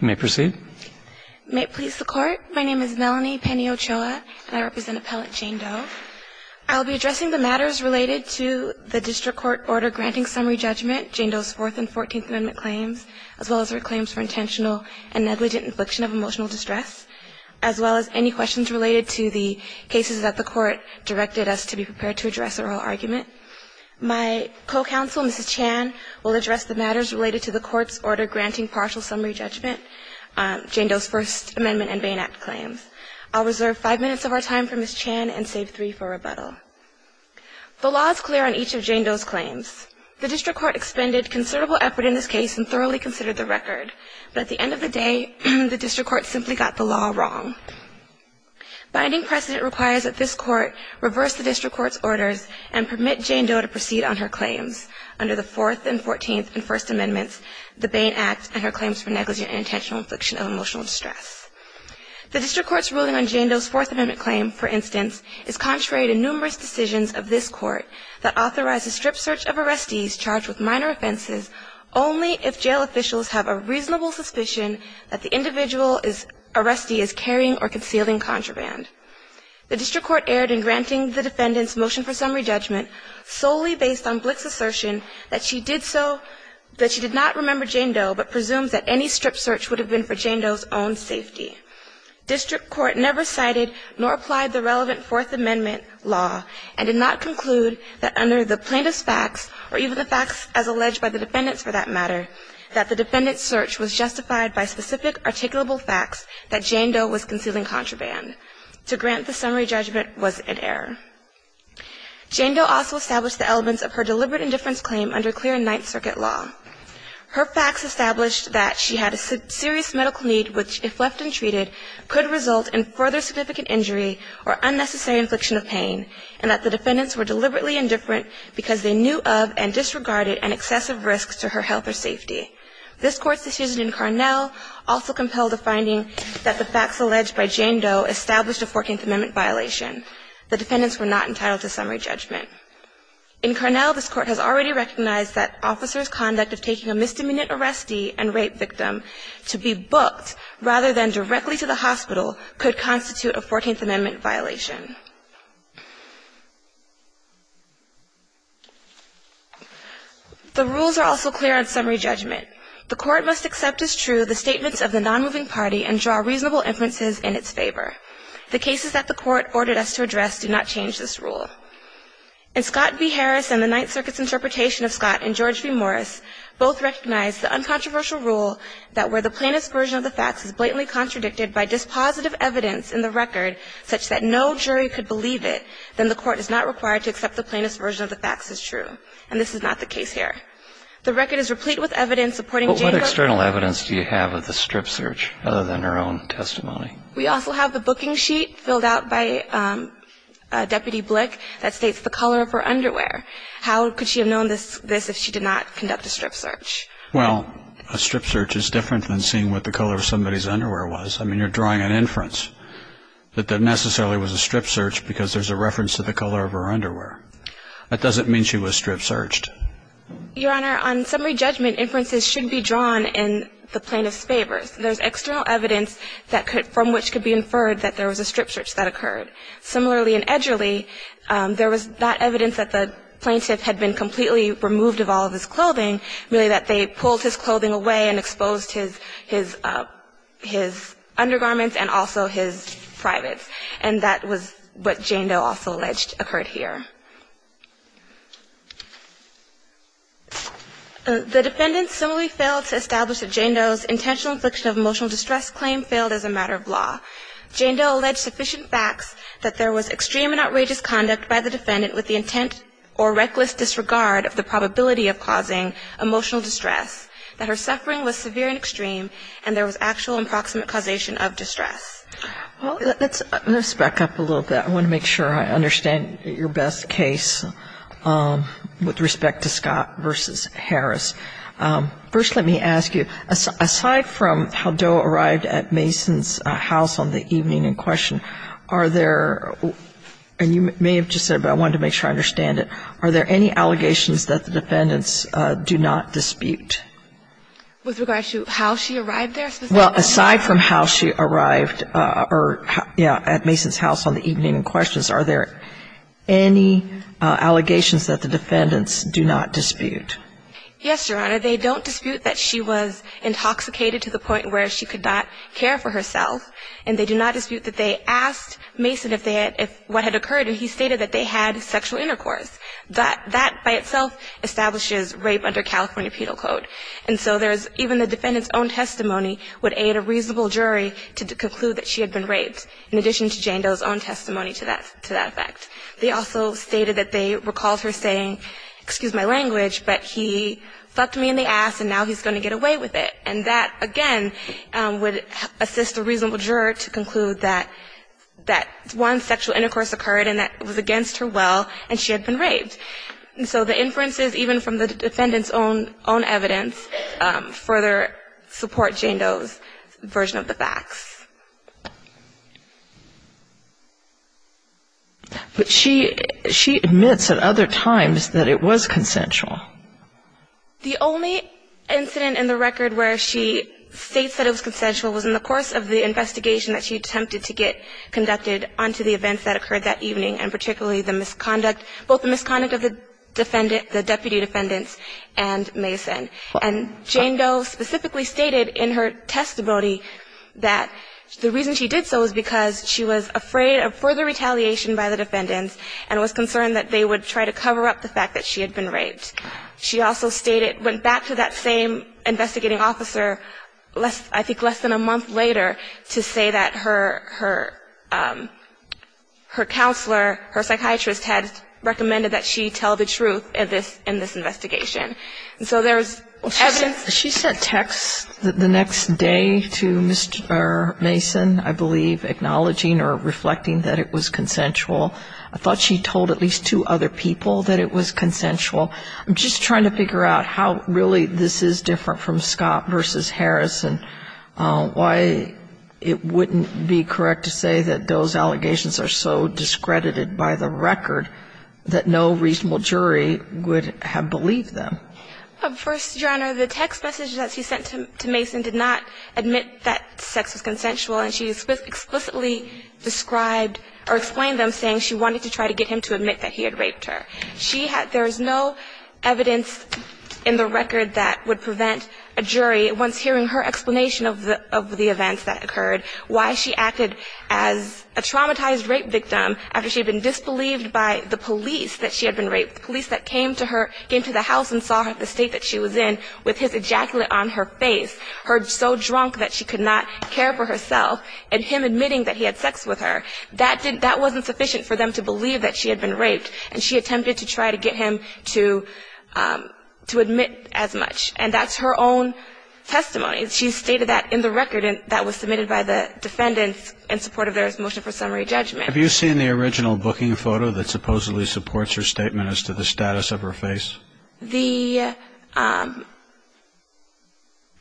You may proceed. May it please the Court, my name is Melanie Penny Ochoa, and I represent Appellant Jane Doe. I will be addressing the matters related to the District Court order granting summary judgment, Jane Doe's Fourth and Fourteenth Amendment claims, as well as her claims for intentional and negligent infliction of emotional distress, as well as any questions related to the cases that the Court directed us to be prepared to address or our argument. My co-counsel, Mrs. Chan, will address the matters related to the Court's order granting partial summary judgment, Jane Doe's First Amendment and Bain Act claims. I'll reserve five minutes of our time for Mrs. Chan and save three for rebuttal. The law is clear on each of Jane Doe's claims. The District Court expended considerable effort in this case and thoroughly considered the record, but at the end of the day, the District Court simply got the law wrong. Binding precedent requires that this Court reverse the District Court's orders and permit Jane Doe to proceed on her claims under the Fourth and Fourteenth and First Amendments, the Bain Act, and her claims for negligent and intentional infliction of emotional distress. The District Court's ruling on Jane Doe's Fourth Amendment claim, for instance, is contrary to numerous decisions of this Court that authorize a strip search of arrestees charged with minor offenses only if jail officials have a reasonable suspicion that the individual arrestee is carrying or concealing contraband. The District Court erred in granting the defendant's motion for summary judgment solely based on Blick's assertion that she did not remember Jane Doe but presumes that any strip search would have been for Jane Doe's own safety. District Court never cited nor applied the relevant Fourth Amendment law and did not conclude that under the plaintiff's facts, or even the facts as alleged by the defendants for that matter, that the defendant's search was justified by specific articulable facts that Jane Doe was concealing contraband. To grant the summary judgment was an error. Jane Doe also established the elements of her deliberate indifference claim under clear Ninth Circuit law. Her facts established that she had a serious medical need which, if left untreated, could result in further significant injury or unnecessary infliction of pain, and that the defendants were deliberately indifferent because they knew of and disregarded an excessive risk to her health or safety. This Court's decision in Carnell also compelled a finding that the facts alleged by Jane Doe established a Fourteenth Amendment violation. The defendants were not entitled to summary judgment. In Carnell, this Court has already recognized that officers' conduct of taking a misdemeanor arrestee and rape victim to be booked rather than directly to the hospital could constitute a Fourteenth Amendment violation. The rules are also clear on summary judgment. The Court must accept as true the statements of the nonmoving party and draw reasonable inferences in its favor. The cases that the Court ordered us to address do not change this rule. In Scott v. Harris and the Ninth Circuit's interpretation of Scott and George v. Morris, both recognize the uncontroversial rule that where the plaintiff's version of the facts is blatantly contradicted by dispositive evidence in the record such that no jury could believe it, then the Court is not required to accept the plaintiff's version of the facts as true. And this is not the case here. The record is replete with evidence supporting Jane Doe. But what external evidence do you have of the strip search other than her own testimony? We also have the booking sheet filled out by Deputy Blick that states the color of her underwear. How could she have known this if she did not conduct a strip search? Well, a strip search is different than seeing what the color of somebody's underwear was. I mean, you're drawing an inference that that necessarily was a strip search because there's a reference to the color of her underwear. That doesn't mean she was strip searched. Your Honor, on summary judgment, inferences should be drawn in the plaintiff's favor. There's external evidence from which could be inferred that there was a strip search that occurred. Similarly in Edgerly, there was not evidence that the plaintiff had been completely removed of all of his clothing, merely that they pulled his clothing away and exposed his undergarments and also his privates. And that was what Jane Doe also alleged occurred here. The defendants similarly failed to establish that Jane Doe's intentional infliction of emotional distress claim failed as a matter of law. Jane Doe alleged sufficient facts that there was extreme and outrageous conduct by the defendant with the intent or reckless disregard of the probability of causing emotional distress, that her suffering was severe and extreme, and there was actual and proximate causation of distress. Well, let's back up a little bit. I want to make sure I understand your best case with respect to Scott v. Harris. First let me ask you, aside from how Doe arrived at Mason's house on the evening in question, are there, and you may have just said it, but I wanted to make sure I understand it, are there any allegations that the defendants do not dispute? With regard to how she arrived there specifically? Well, aside from how she arrived at Mason's house on the evening in question, are there any allegations that the defendants do not dispute? Yes, Your Honor. They don't dispute that she was intoxicated to the point where she could not care for herself, and they do not dispute that they asked Mason what had occurred, and he stated that they had sexual intercourse. That by itself establishes rape under California Penal Code. And so even the defendant's own testimony would aid a reasonable jury to conclude that she had been raped, in addition to Jane Doe's own testimony to that effect. They also stated that they recalled her saying, excuse my language, but he fucked me in the ass and now he's going to get away with it. And that, again, would assist a reasonable juror to conclude that one sexual intercourse occurred and that it was against her will and she had been raped. And so the inferences, even from the defendant's own evidence, further support Jane Doe's version of the facts. But she admits at other times that it was consensual. The only incident in the record where she states that it was consensual was in the course of the investigation that she attempted to get conducted onto the events that occurred that evening, and particularly the misconduct, both the misconduct of the defendant, the deputy defendants and Mason. And Jane Doe specifically stated in her testimony that the reason she did so was because she was afraid of further retaliation by the defendants and was concerned that they would try to cover up the fact that she had been raped. She also went back to that same investigating officer I think less than a month later to say that her counselor, her psychiatrist, had recommended that she tell the truth in this investigation. And so there's evidence. She sent text the next day to Mason, I believe, acknowledging or reflecting that it was consensual. I thought she told at least two other people that it was consensual. I'm just trying to figure out how really this is different from Scott v. Harrison, why it wouldn't be correct to say that those allegations are so discredited by the record that no reasonable jury would have believed them. First, Your Honor, the text message that she sent to Mason did not admit that sex was consensual, and she explicitly described or explained them saying she wanted to try to get him to admit that he had raped her. She had no evidence in the record that would prevent a jury, once hearing her explanation of the events that occurred, why she acted as a traumatized rape victim after she had been disbelieved by the police that she had been raped, the police that came to her, came to the house and saw the state that she was in with his ejaculate on her face, her so drunk that she could not care for herself, and him admitting that he had sex with her. That wasn't sufficient for them to believe that she had been raped, and she attempted to try to get him to admit as much. And that's her own testimony. She stated that in the record that was submitted by the defendants in support of their motion for summary judgment. Have you seen the original booking photo that supposedly supports her statement as to the status of her face? The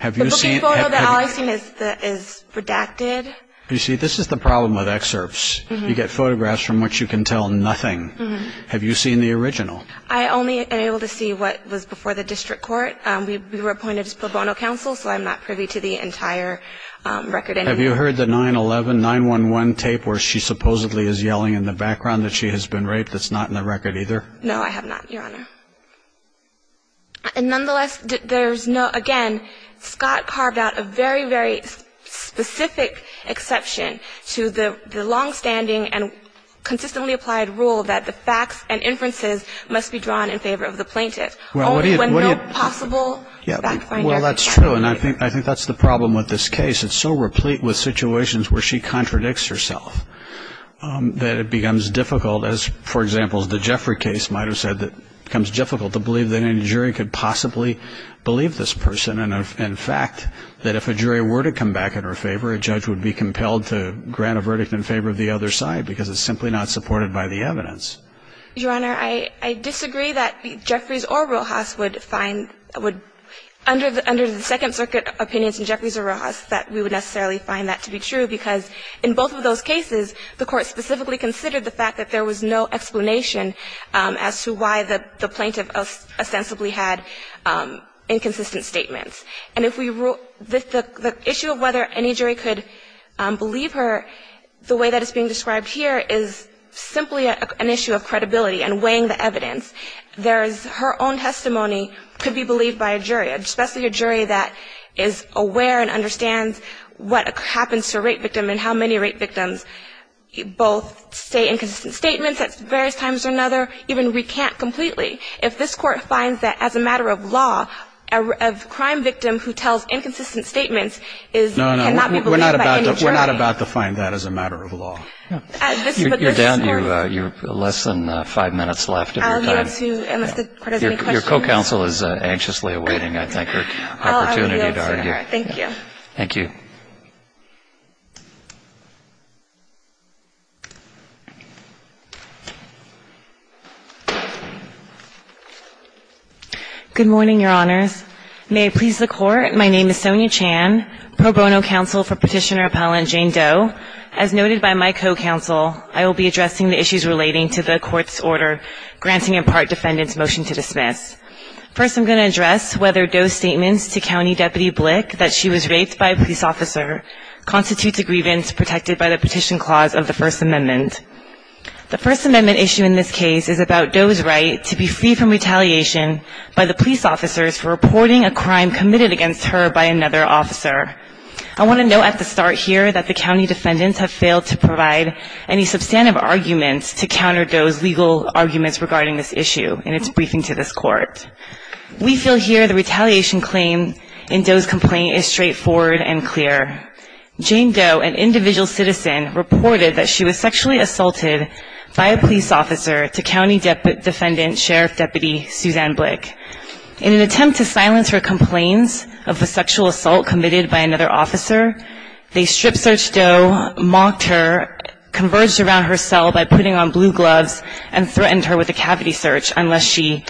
booking photo that all I've seen is redacted. You see, this is the problem with excerpts. You get photographs from which you can tell nothing. Have you seen the original? I only am able to see what was before the district court. We were appointed as pro bono counsel, so I'm not privy to the entire record. Have you heard the 911 tape where she supposedly is yelling in the background that she has been raped? That's not in the record either? No, I have not, Your Honor. And nonetheless, there's no, again, Scott carved out a very, very specific exception to the longstanding and consistently applied rule that the facts and inferences must be drawn in favor of the plaintiff. Well, that's true, and I think that's the problem with this case. It's so replete with situations where she contradicts herself that it becomes difficult, as, for example, the Jeffrey case might have said, that it becomes difficult to believe that any jury could possibly believe this person. And, in fact, that if a jury were to come back in her favor, a judge would be compelled to grant a verdict in favor of the other side because it's simply not supported by the evidence. Your Honor, I disagree that Jeffreys or Rojas would find, would, under the Second Circuit opinions in Jeffreys or Rojas, that we would necessarily find that to be true because in both of those cases, the Court specifically considered the fact that there was no explanation as to why the plaintiff ostensibly had inconsistent statements. And if we rule, the issue of whether any jury could believe her, the way that it's being described here is simply an issue of credibility and weighing the evidence. There's her own testimony could be believed by a jury, especially a jury that is aware and understands what happens to a rape victim and how many rape victims both say inconsistent statements at various times or another, even recant completely. If this Court finds that, as a matter of law, you're down to less than five minutes left of your time. Your co-counsel is anxiously awaiting, I think, her opportunity to argue. Thank you. Thank you. Good morning, Your Honors. May it please the Court, my name is Sonia Chan, pro bono counsel for Petitioner Appellant Jane Doe. As noted by my co-counsel, I will be addressing the issues relating to the Court's order granting in part defendant's motion to dismiss. First, I'm going to address whether Doe's statements to County Deputy Blick that she was raped by a police officer constitutes a grievance protected by the Petition Clause of the First Amendment. The First Amendment issue in this case is about Doe's right to be free from retaliation by the police officers for reporting a crime committed against her by another officer. I want to note at the start here that the County defendants have failed to provide any substantive arguments to counter Doe's legal arguments regarding this issue in its briefing to this Court. We feel here the retaliation claim in Doe's complaint is straightforward and clear. Jane Doe, an individual citizen, reported that she was sexually assaulted by a police officer to County Defendant Sheriff Deputy Suzanne Blick. In an attempt to silence her complaints of a sexual assault committed by another officer, they strip-searched Doe, mocked her, converged around her cell by putting on blue gloves, and threatened her with a cavity search unless she,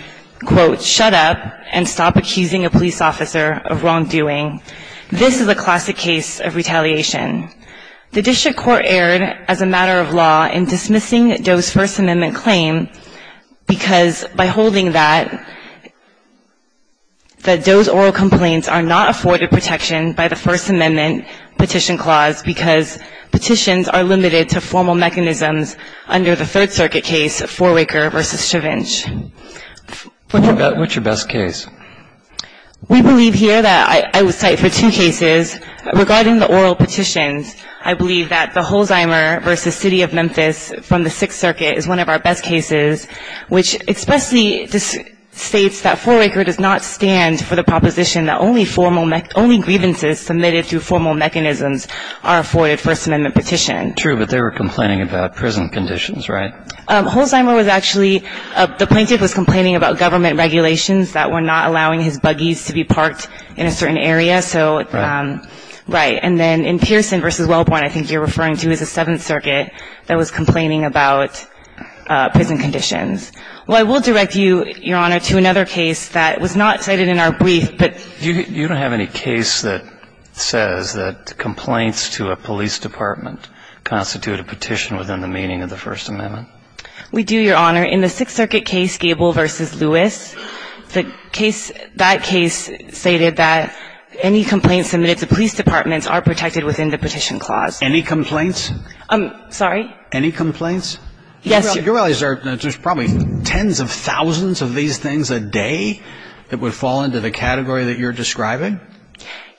quote, shut up and stop accusing a police officer of wrongdoing. This is a classic case of retaliation. The District Court erred as a matter of law in dismissing Doe's First Amendment claim because by holding that, that Doe's oral complaints are not afforded protection by the First Amendment Petition Clause because petitions are limited to formal mechanisms under the Third Circuit case of Forwaker v. Stravinch. What's your best case? We believe here that I would cite for two cases. Regarding the oral petitions, I believe that the Holzheimer v. City of Memphis from the Sixth Circuit is one of our best cases, which expressly states that Forwaker does not stand for the proposition that only grievances submitted through formal mechanisms are afforded First Amendment petition. True, but they were complaining about prison conditions, right? Holzheimer was actually, the plaintiff was complaining about government regulations that were not allowing his buggies to be parked in a certain area. Right. Right. And then in Pearson v. Wellborn, I think you're referring to, I believe it was the Seventh Circuit that was complaining about prison conditions. Well, I will direct you, Your Honor, to another case that was not cited in our brief, but You don't have any case that says that complaints to a police department constitute a petition within the meaning of the First Amendment? We do, Your Honor. In the Sixth Circuit case, Gable v. Lewis, the case, that case stated that any complaints submitted to police departments are protected within the Petition Clause. Any complaints? I'm sorry? Any complaints? Yes. You realize there's probably tens of thousands of these things a day that would fall into the category that you're describing?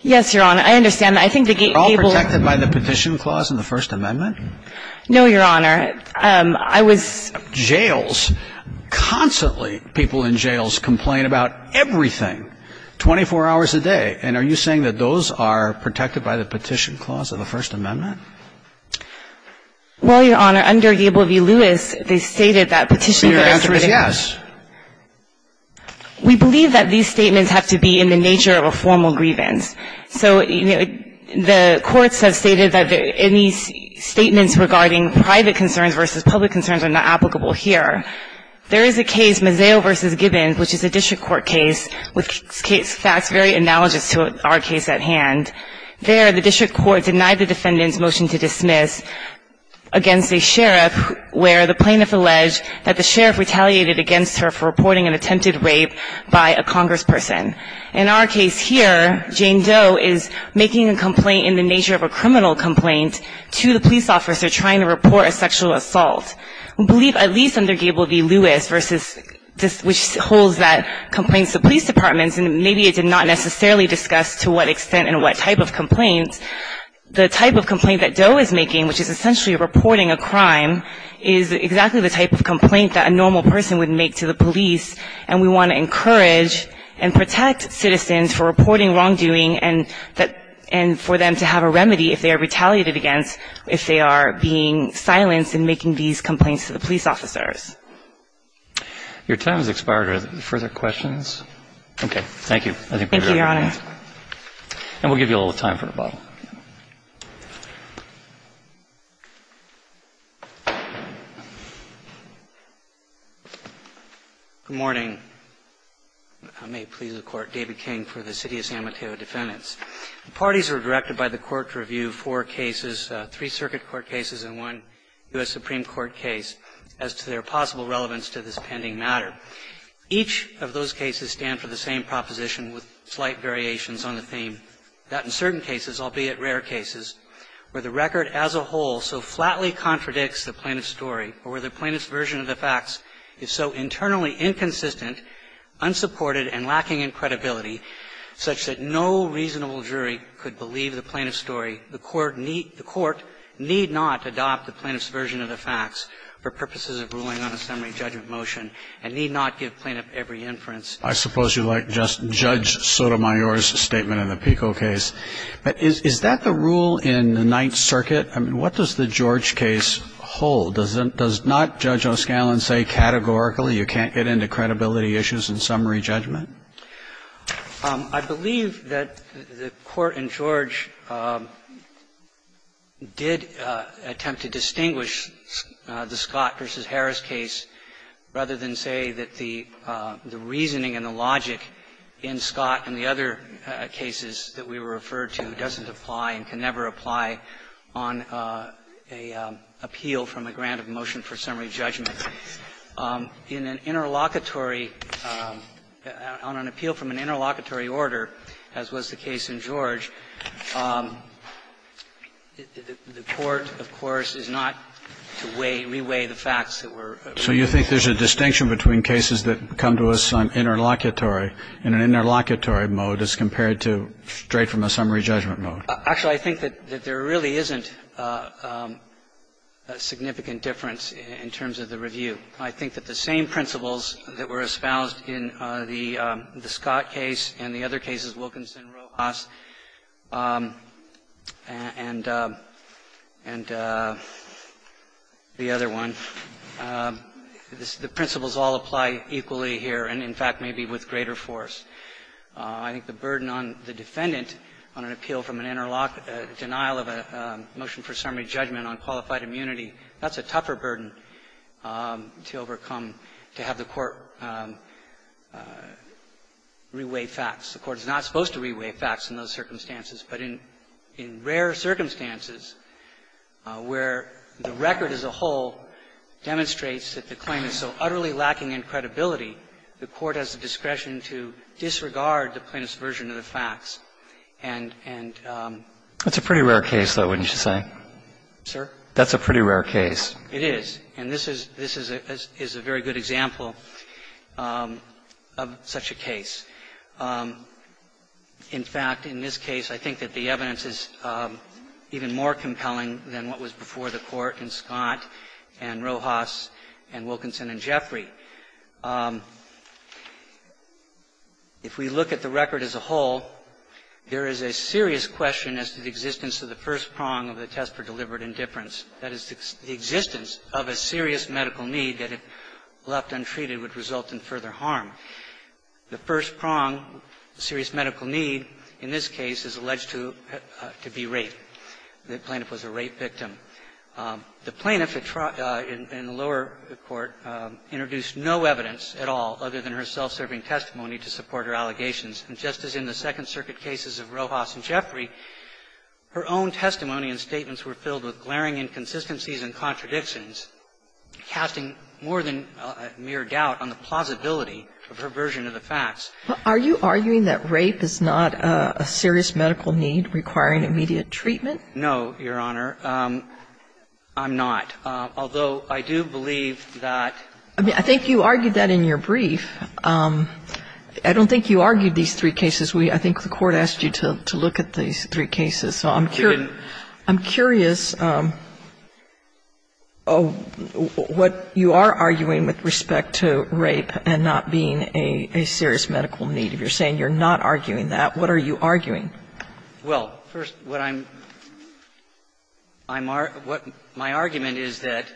Yes, Your Honor. I understand that. I think that Gable Are all protected by the Petition Clause in the First Amendment? No, Your Honor. I was Jails. Constantly, people in jails complain about everything, 24 hours a day. And are you saying that those are protected by the Petition Clause of the First Amendment? Well, Your Honor, under Gable v. Lewis, they stated that petitions that are submitted to police departments Your answer is yes. We believe that these statements have to be in the nature of a formal grievance. So the courts have stated that any statements regarding private concerns versus public concerns are not applicable here. There is a case, Mazzeo v. Gibbons, which is a district court case with case facts very analogous to our case at hand. There, the district court denied the defendant's motion to dismiss against a sheriff where the plaintiff alleged that the sheriff retaliated against her for reporting an attempted rape by a congressperson. In our case here, Jane Doe is making a complaint in the nature of a criminal complaint to the police officer trying to report a sexual assault. We believe at least under Gable v. Lewis, which holds that complaints to police departments and maybe it did not necessarily discuss to what extent and what type of complaint, the type of complaint that Doe is making, which is essentially reporting a crime, is exactly the type of complaint that a normal person would make to the police. And we want to encourage and protect citizens for reporting wrongdoing and for them to have a remedy if they are retaliated against if they are being silenced in making these complaints to the police officers. Your time has expired. Are there further questions? Okay. Thank you. I think we're good. Thank you, Your Honor. And we'll give you a little time for rebuttal. Good morning. I may please the Court. David King for the City of San Mateo Defendants. Parties are directed by the Court to review four cases, three circuit court cases and one U.S. Supreme Court case, as to their possible relevance to this pending matter. Each of those cases stand for the same proposition with slight variations on the theme, that in certain cases, albeit rare cases, where the record as a whole so flatly contradicts the plaintiff's story or where the plaintiff's version of the facts is so internally inconsistent, unsupported, and lacking in credibility such that no reasonable jury could believe the plaintiff's story, the court need not adopt the plaintiff's version of the facts for purposes of ruling on a summary judgment motion and need not give plaintiff every inference. I suppose you'd like just Judge Sotomayor's statement in the Pico case. But is that the rule in the Ninth Circuit? I mean, what does the George case hold? Does not Judge O'Scallion say categorically you can't get into credibility issues in summary judgment? I believe that the Court in George did attempt to distinguish the Scott v. Harris case rather than say that the reasoning and the logic in Scott and the other cases that we referred to doesn't apply and can never apply on a appeal from a grant of motion for summary judgment. In an interlocutory – on an appeal from an interlocutory order, as was the case in So you think there's a distinction between cases that come to us on interlocutory in an interlocutory mode as compared to straight from a summary judgment mode? Actually, I think that there really isn't a significant difference in terms of the review. I think that the same principles that were espoused in the Scott case and the other one, the principles all apply equally here and, in fact, maybe with greater force. I think the burden on the defendant on an appeal from an interlocutory denial of a motion for summary judgment on qualified immunity, that's a tougher burden to overcome to have the Court reweigh facts. The Court is not supposed to reweigh facts in those circumstances. But in rare circumstances where the record as a whole demonstrates that the claim is so utterly lacking in credibility, the Court has the discretion to disregard the plaintiff's version of the facts. And – That's a pretty rare case, though, wouldn't you say? Sir? That's a pretty rare case. It is. And this is a very good example of such a case. In fact, in this case, I think that the evidence is even more compelling than what was before the Court in Scott and Rojas and Wilkinson and Jeffrey. If we look at the record as a whole, there is a serious question as to the existence of the first prong of the test for deliberate indifference, that is, the existence of a serious medical need that if left untreated would result in further harm. The first prong, serious medical need, in this case, is alleged to be rape. The plaintiff was a rape victim. The plaintiff in the lower court introduced no evidence at all other than her self-serving testimony to support her allegations. And just as in the Second Circuit cases of Rojas and Jeffrey, her own testimony and statements were filled with glaring inconsistencies and contradictions, casting more than mere doubt on the plausibility of her version of the facts. Are you arguing that rape is not a serious medical need requiring immediate treatment? No, Your Honor. I'm not. Although, I do believe that. I mean, I think you argued that in your brief. I don't think you argued these three cases. I think the Court asked you to look at these three cases. So I'm curious what you are arguing with respect to rape and not being a serious medical need. If you're saying you're not arguing that, what are you arguing? Well, first, what I'm arguing is that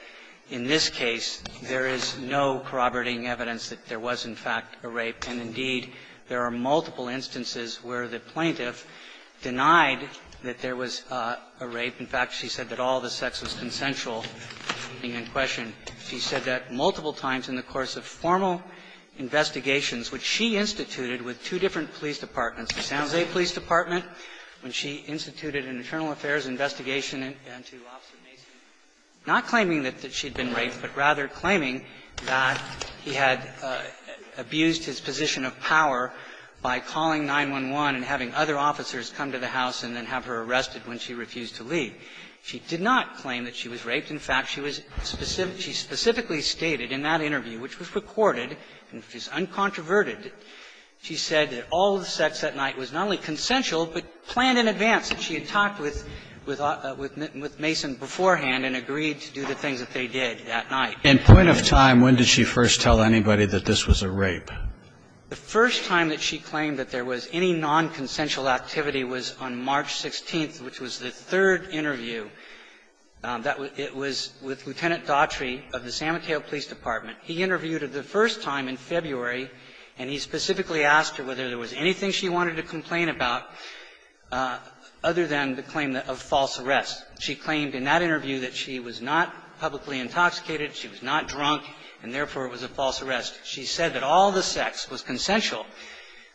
in this case, there is no corroborating evidence that there was, in fact, a rape. And, indeed, there are multiple instances where the plaintiff denied that there was a rape. In fact, she said that all the sex was consensual. And in question, she said that multiple times in the course of formal investigations, which she instituted with two different police departments, the San Jose Police Department, when she instituted an internal affairs investigation into Officer Mason, not claiming that she had been raped, but rather claiming that he had abused his position of power by calling 911 and having other officers come to the house and then have her arrested when she refused to leave. She did not claim that she was raped. In fact, she was specifically stated in that interview, which was recorded and which is uncontroverted, she said that all the sex that night was not only consensual, but planned in advance, that she had talked with Mason beforehand and agreed to do the things that they did that night. And point of time, when did she first tell anybody that this was a rape? The first time that she claimed that there was any nonconsensual activity was on March 16th, which was the third interview. It was with Lieutenant Daughtry of the San Mateo Police Department. He interviewed her the first time in February, and he specifically asked her whether there was anything she wanted to complain about other than the claim of false arrest. She claimed in that interview that she was not publicly intoxicated, she was not drunk, and therefore it was a false arrest. She said that all the sex was consensual.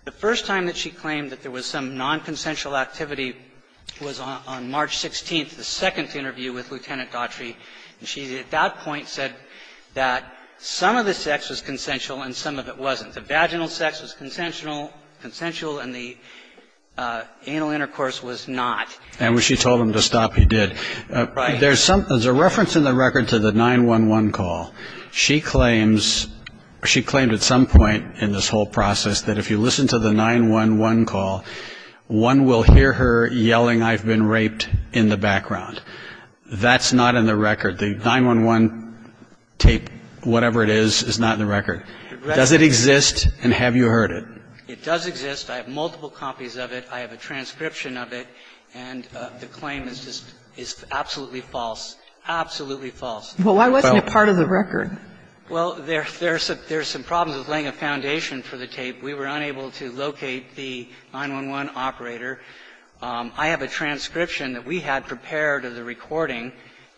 The first time that she claimed that there was some nonconsensual activity was on March 16th, the second interview with Lieutenant Daughtry, and she at that point said that some of the sex was consensual and some of it wasn't. The vaginal sex was consensual, and the anal intercourse was not. And when she told him to stop, he did. Right. There's some, there's a reference in the record to the 911 call. She claims, she claimed at some point in this whole process that if you listen to the 911 call, one will hear her yelling, I've been raped in the background. That's not in the record. The 911 tape, whatever it is, is not in the record. Does it exist, and have you heard it? It does exist. I have multiple copies of it. I have a transcription of it, and the claim is just, is absolutely false. Absolutely false. Well, why wasn't it part of the record? Well, there's some problems with laying a foundation for the tape. We were unable to locate the 911 operator. I have a transcription that we had prepared of the recording,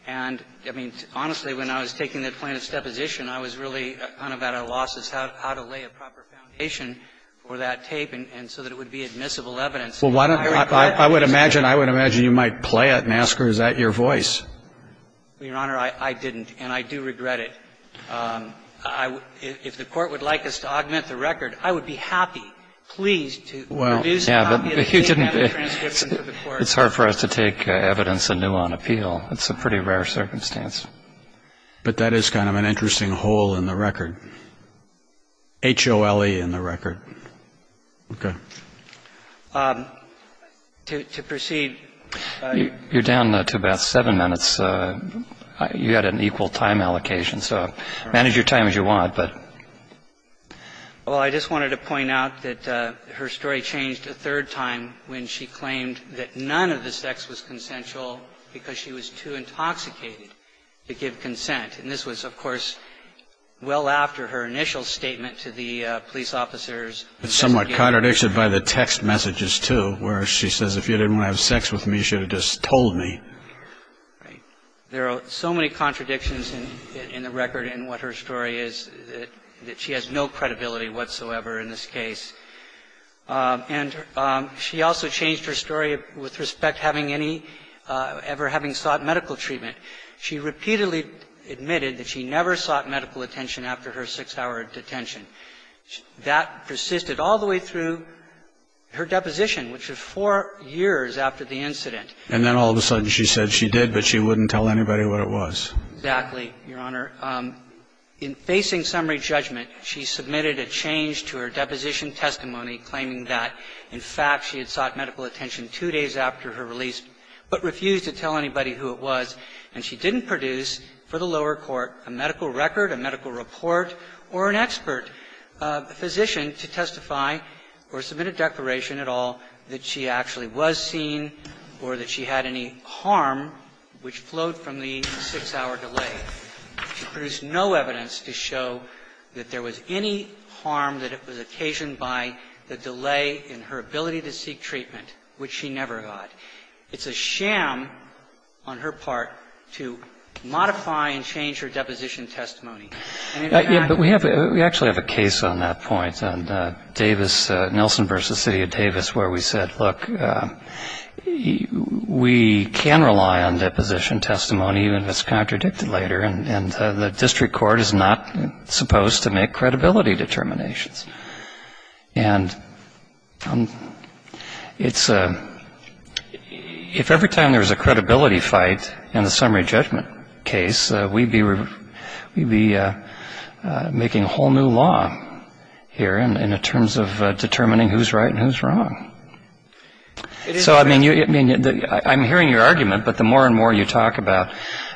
and, I mean, honestly, when I was taking the plaintiff's deposition, I was really kind of at a loss as to how to lay a proper foundation for that tape, and so that it would be admissible evidence. Well, why don't I, I would imagine, I would imagine you might play it and ask her, is that your voice? Your Honor, I didn't, and I do regret it. I, if the Court would like us to augment the record, I would be happy, pleased to produce a copy of the transcription for the Court. It's hard for us to take evidence anew on appeal. It's a pretty rare circumstance. But that is kind of an interesting hole in the record. H-O-L-E in the record. Okay. To proceed. You're down to about seven minutes. You had an equal time allocation, so manage your time as you want, but. Well, I just wanted to point out that her story changed a third time when she claimed that none of the sex was consensual because she was too intoxicated to give consent. And this was, of course, well after her initial statement to the police officers. It's somewhat contradicted by the text messages, too, where she says, if you didn't want to have sex with me, you should have just told me. Right. There are so many contradictions in the record in what her story is that she has no credibility whatsoever in this case. And she also changed her story with respect having any, ever having sought medical treatment. She repeatedly admitted that she never sought medical attention after her six-hour detention. That persisted all the way through her deposition, which was four years after the incident. And then all of a sudden she said she did, but she wouldn't tell anybody what it was. Exactly, Your Honor. In facing summary judgment, she submitted a change to her deposition testimony claiming that, in fact, she had sought medical attention two days after her release, but refused to tell anybody who it was. And she didn't produce for the lower court a medical record, a medical report, or an expert physician to testify or submit a declaration at all that she actually was seen or that she had any harm which flowed from the six-hour delay. She produced no evidence to show that there was any harm that was occasioned by the delay in her ability to seek treatment, which she never got. It's a sham on her part to modify and change her deposition testimony. Yeah, but we have, we actually have a case on that point on Davis, Nelson v. City of Davis, where we said, look, we can rely on deposition testimony even if it's contradicted later, and the district court is not supposed to make credibility determinations. And it's a, if every time there was a credibility fight in the summary judgment case, we'd be, we'd be making a whole new law here in terms of determining who's right and who's wrong. So, I mean, I'm hearing your argument, but the more and more you talk about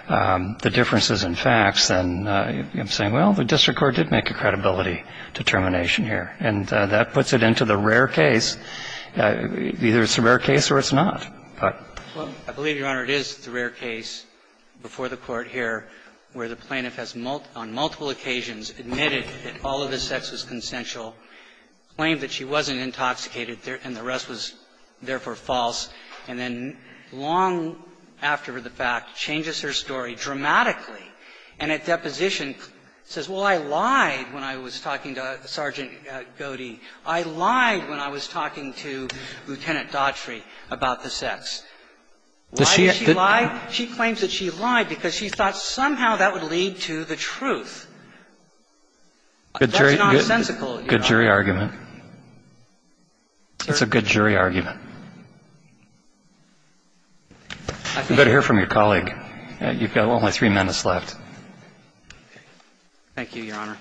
the differences in facts, then I'm saying, well, the district court did make a credibility determination. And that puts it into the rare case. Either it's a rare case or it's not. I believe, Your Honor, it is the rare case before the Court here where the plaintiff has, on multiple occasions, admitted that all of the sex was consensual, claimed that she wasn't intoxicated, and the rest was therefore false, and then long after the fact, changes her story dramatically, and at deposition says, well, I lied when I was talking to Sergeant Gowdy. I lied when I was talking to Lieutenant Daughtry about the sex. Why did she lie? She claims that she lied because she thought somehow that would lead to the truth. That's nonsensical, Your Honor. Good jury argument. It's a good jury argument. You better hear from your colleague. You've got only three minutes left. Thank you, Your Honor.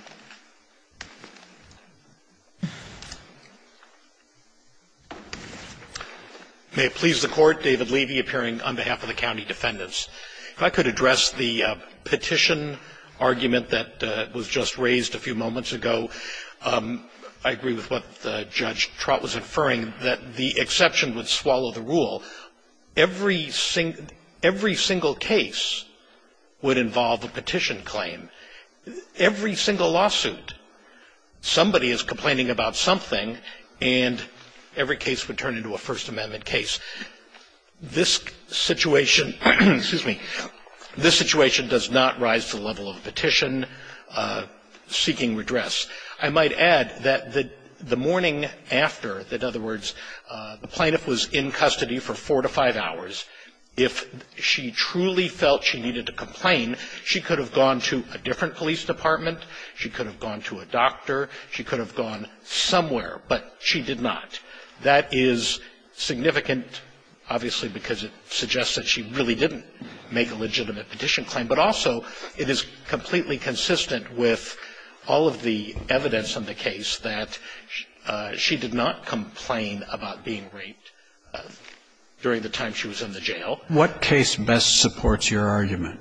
May it please the Court. David Levy, appearing on behalf of the county defendants. If I could address the petition argument that was just raised a few moments ago. I agree with what Judge Trott was inferring, that the exception would swallow the rule. Every single case would involve a petition claim. Every single lawsuit, somebody is complaining about something, and every case would turn into a First Amendment case. This situation, excuse me, this situation does not rise to the level of a petition seeking redress. I might add that the morning after, in other words, the plaintiff was in custody for four to five hours, if she truly felt she needed to complain, she could have gone to a different police department, she could have gone to a doctor, she could have gone somewhere, but she did not. That is significant, obviously, because it suggests that she really didn't make a legitimate petition claim, but also it is completely consistent with all of the evidence in the case that she did not complain about being raped during the time she was in the jail. What case best supports your argument?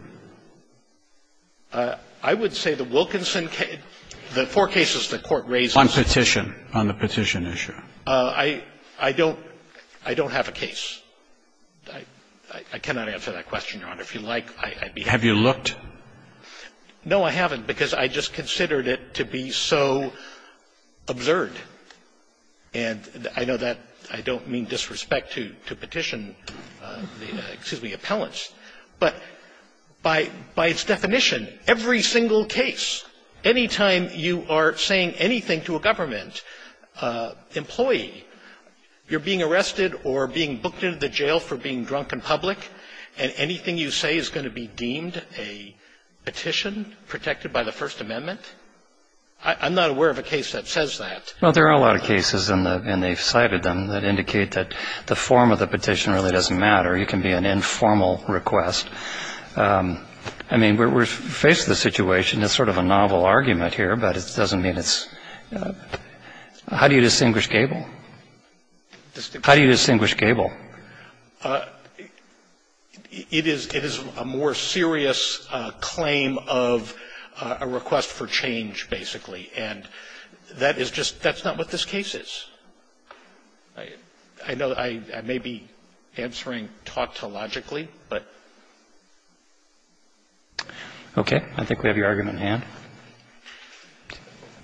I would say the Wilkinson case, the four cases the Court raises. On petition, on the petition issue. I don't have a case. I cannot answer that question, Your Honor. If you like, I'd be happy to. Have you looked? No, I haven't, because I just considered it to be so absurd. And I know that I don't mean disrespect to petition, excuse me, appellants, but by its definition, every single case, any time you are saying anything to a government employee, you're being arrested or being booked into the jail for being drunk in public, and anything you say is going to be deemed a petition protected by the First Amendment? I'm not aware of a case that says that. Well, there are a lot of cases, and they've cited them, that indicate that the form of the petition really doesn't matter. It can be an informal request. I mean, we're faced with a situation. It's sort of a novel argument here, but it doesn't mean it's – how do you distinguish Gable? How do you distinguish Gable? It is a more serious claim of a request for change, basically. And that is just – that's not what this case is. I know I may be answering tautologically, but... Okay. I think we have your argument in hand.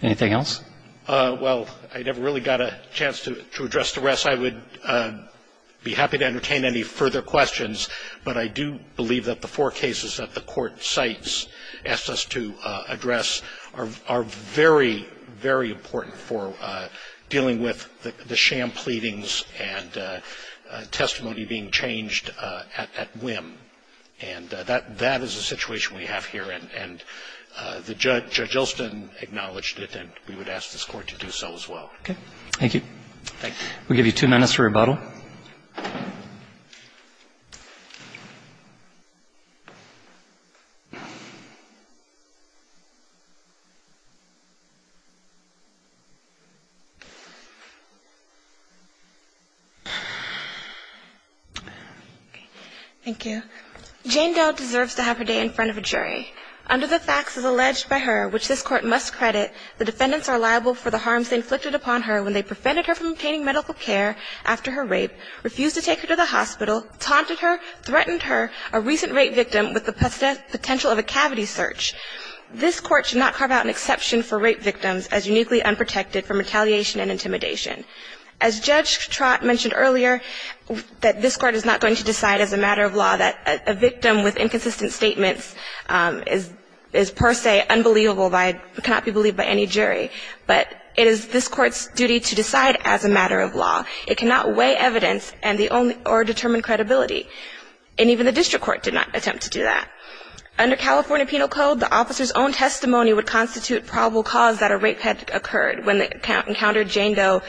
Anything else? Well, I never really got a chance to address the rest. I would be happy to entertain any further questions, but I do believe that the four sites asked us to address are very, very important for dealing with the sham pleadings and testimony being changed at whim. And that is a situation we have here, and Judge Olson acknowledged it, and we would ask this Court to do so as well. Okay. We'll give you two minutes for rebuttal. Thank you. Jane Doe deserves to have her day in front of a jury. Under the facts, as alleged by her, which this Court must credit, the defendants are liable for the harms they inflicted upon her when they prevented her from obtaining medical care after her rape, refused to take her to the hospital, taunted her, threatened her, a recent rape victim with the potential of a cavity search. This Court should not carve out an exception for rape victims as uniquely unprotected from retaliation and intimidation. As Judge Trott mentioned earlier, that this Court is not going to decide as a matter of law that a victim with inconsistent statements is per se unbelievable, cannot be believed by any jury. But it is this Court's duty to decide as a matter of law. It cannot weigh evidence or determine credibility. And even the district court did not attempt to do that. Under California Penal Code, the officer's own testimony would constitute probable cause that a rape had occurred when they encountered Jane Doe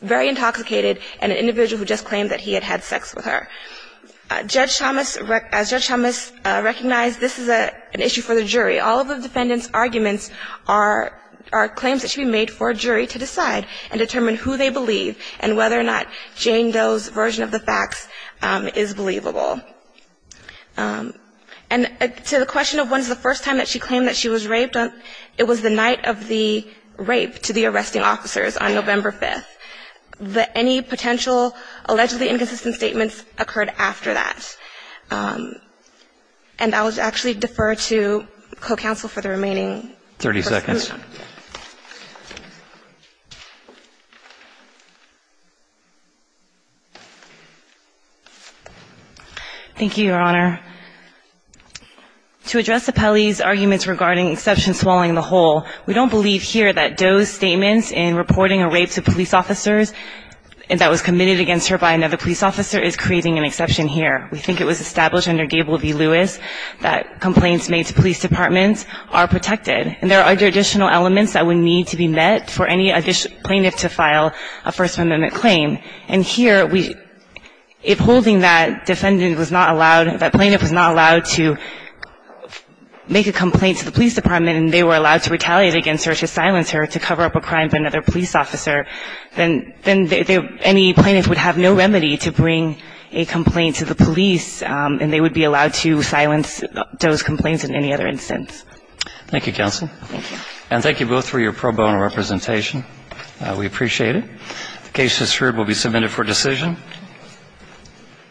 very intoxicated and an individual who just claimed that he had had sex with her. Judge Thomas, as Judge Thomas recognized, this is an issue for the jury. All of the defendant's arguments are claims that should be made for a jury to decide and determine who they believe and whether or not Jane Doe's version of the facts is believable. And to the question of when is the first time that she claimed that she was raped, it was the night of the rape to the arresting officers on November 5th. Any potential allegedly inconsistent statements occurred after that. And I would actually defer to co-counsel for the remaining... 30 seconds. Thank you, Your Honor. To address Apelli's arguments regarding exception swallowing the whole, we don't believe here that Doe's statements in reporting a rape to police officers that was committed against her by another police officer is creating an exception here. We think it was established under Gable v. Lewis that complaints made to police departments are protected and there are additional elements that would need to be met for any plaintiff to file a First Amendment claim. And here, if holding that defendant was not allowed, that plaintiff was not allowed to make a complaint to the police department and they were allowed to retaliate against her to silence her to cover up a crime by another police officer, then any plaintiff would have no remedy to bring a complaint to the police and they would be allowed to silence Doe's complaints in any other instance. Thank you, counsel. And thank you both for your pro bono representation. We appreciate it. The case is heard and will be submitted for decision.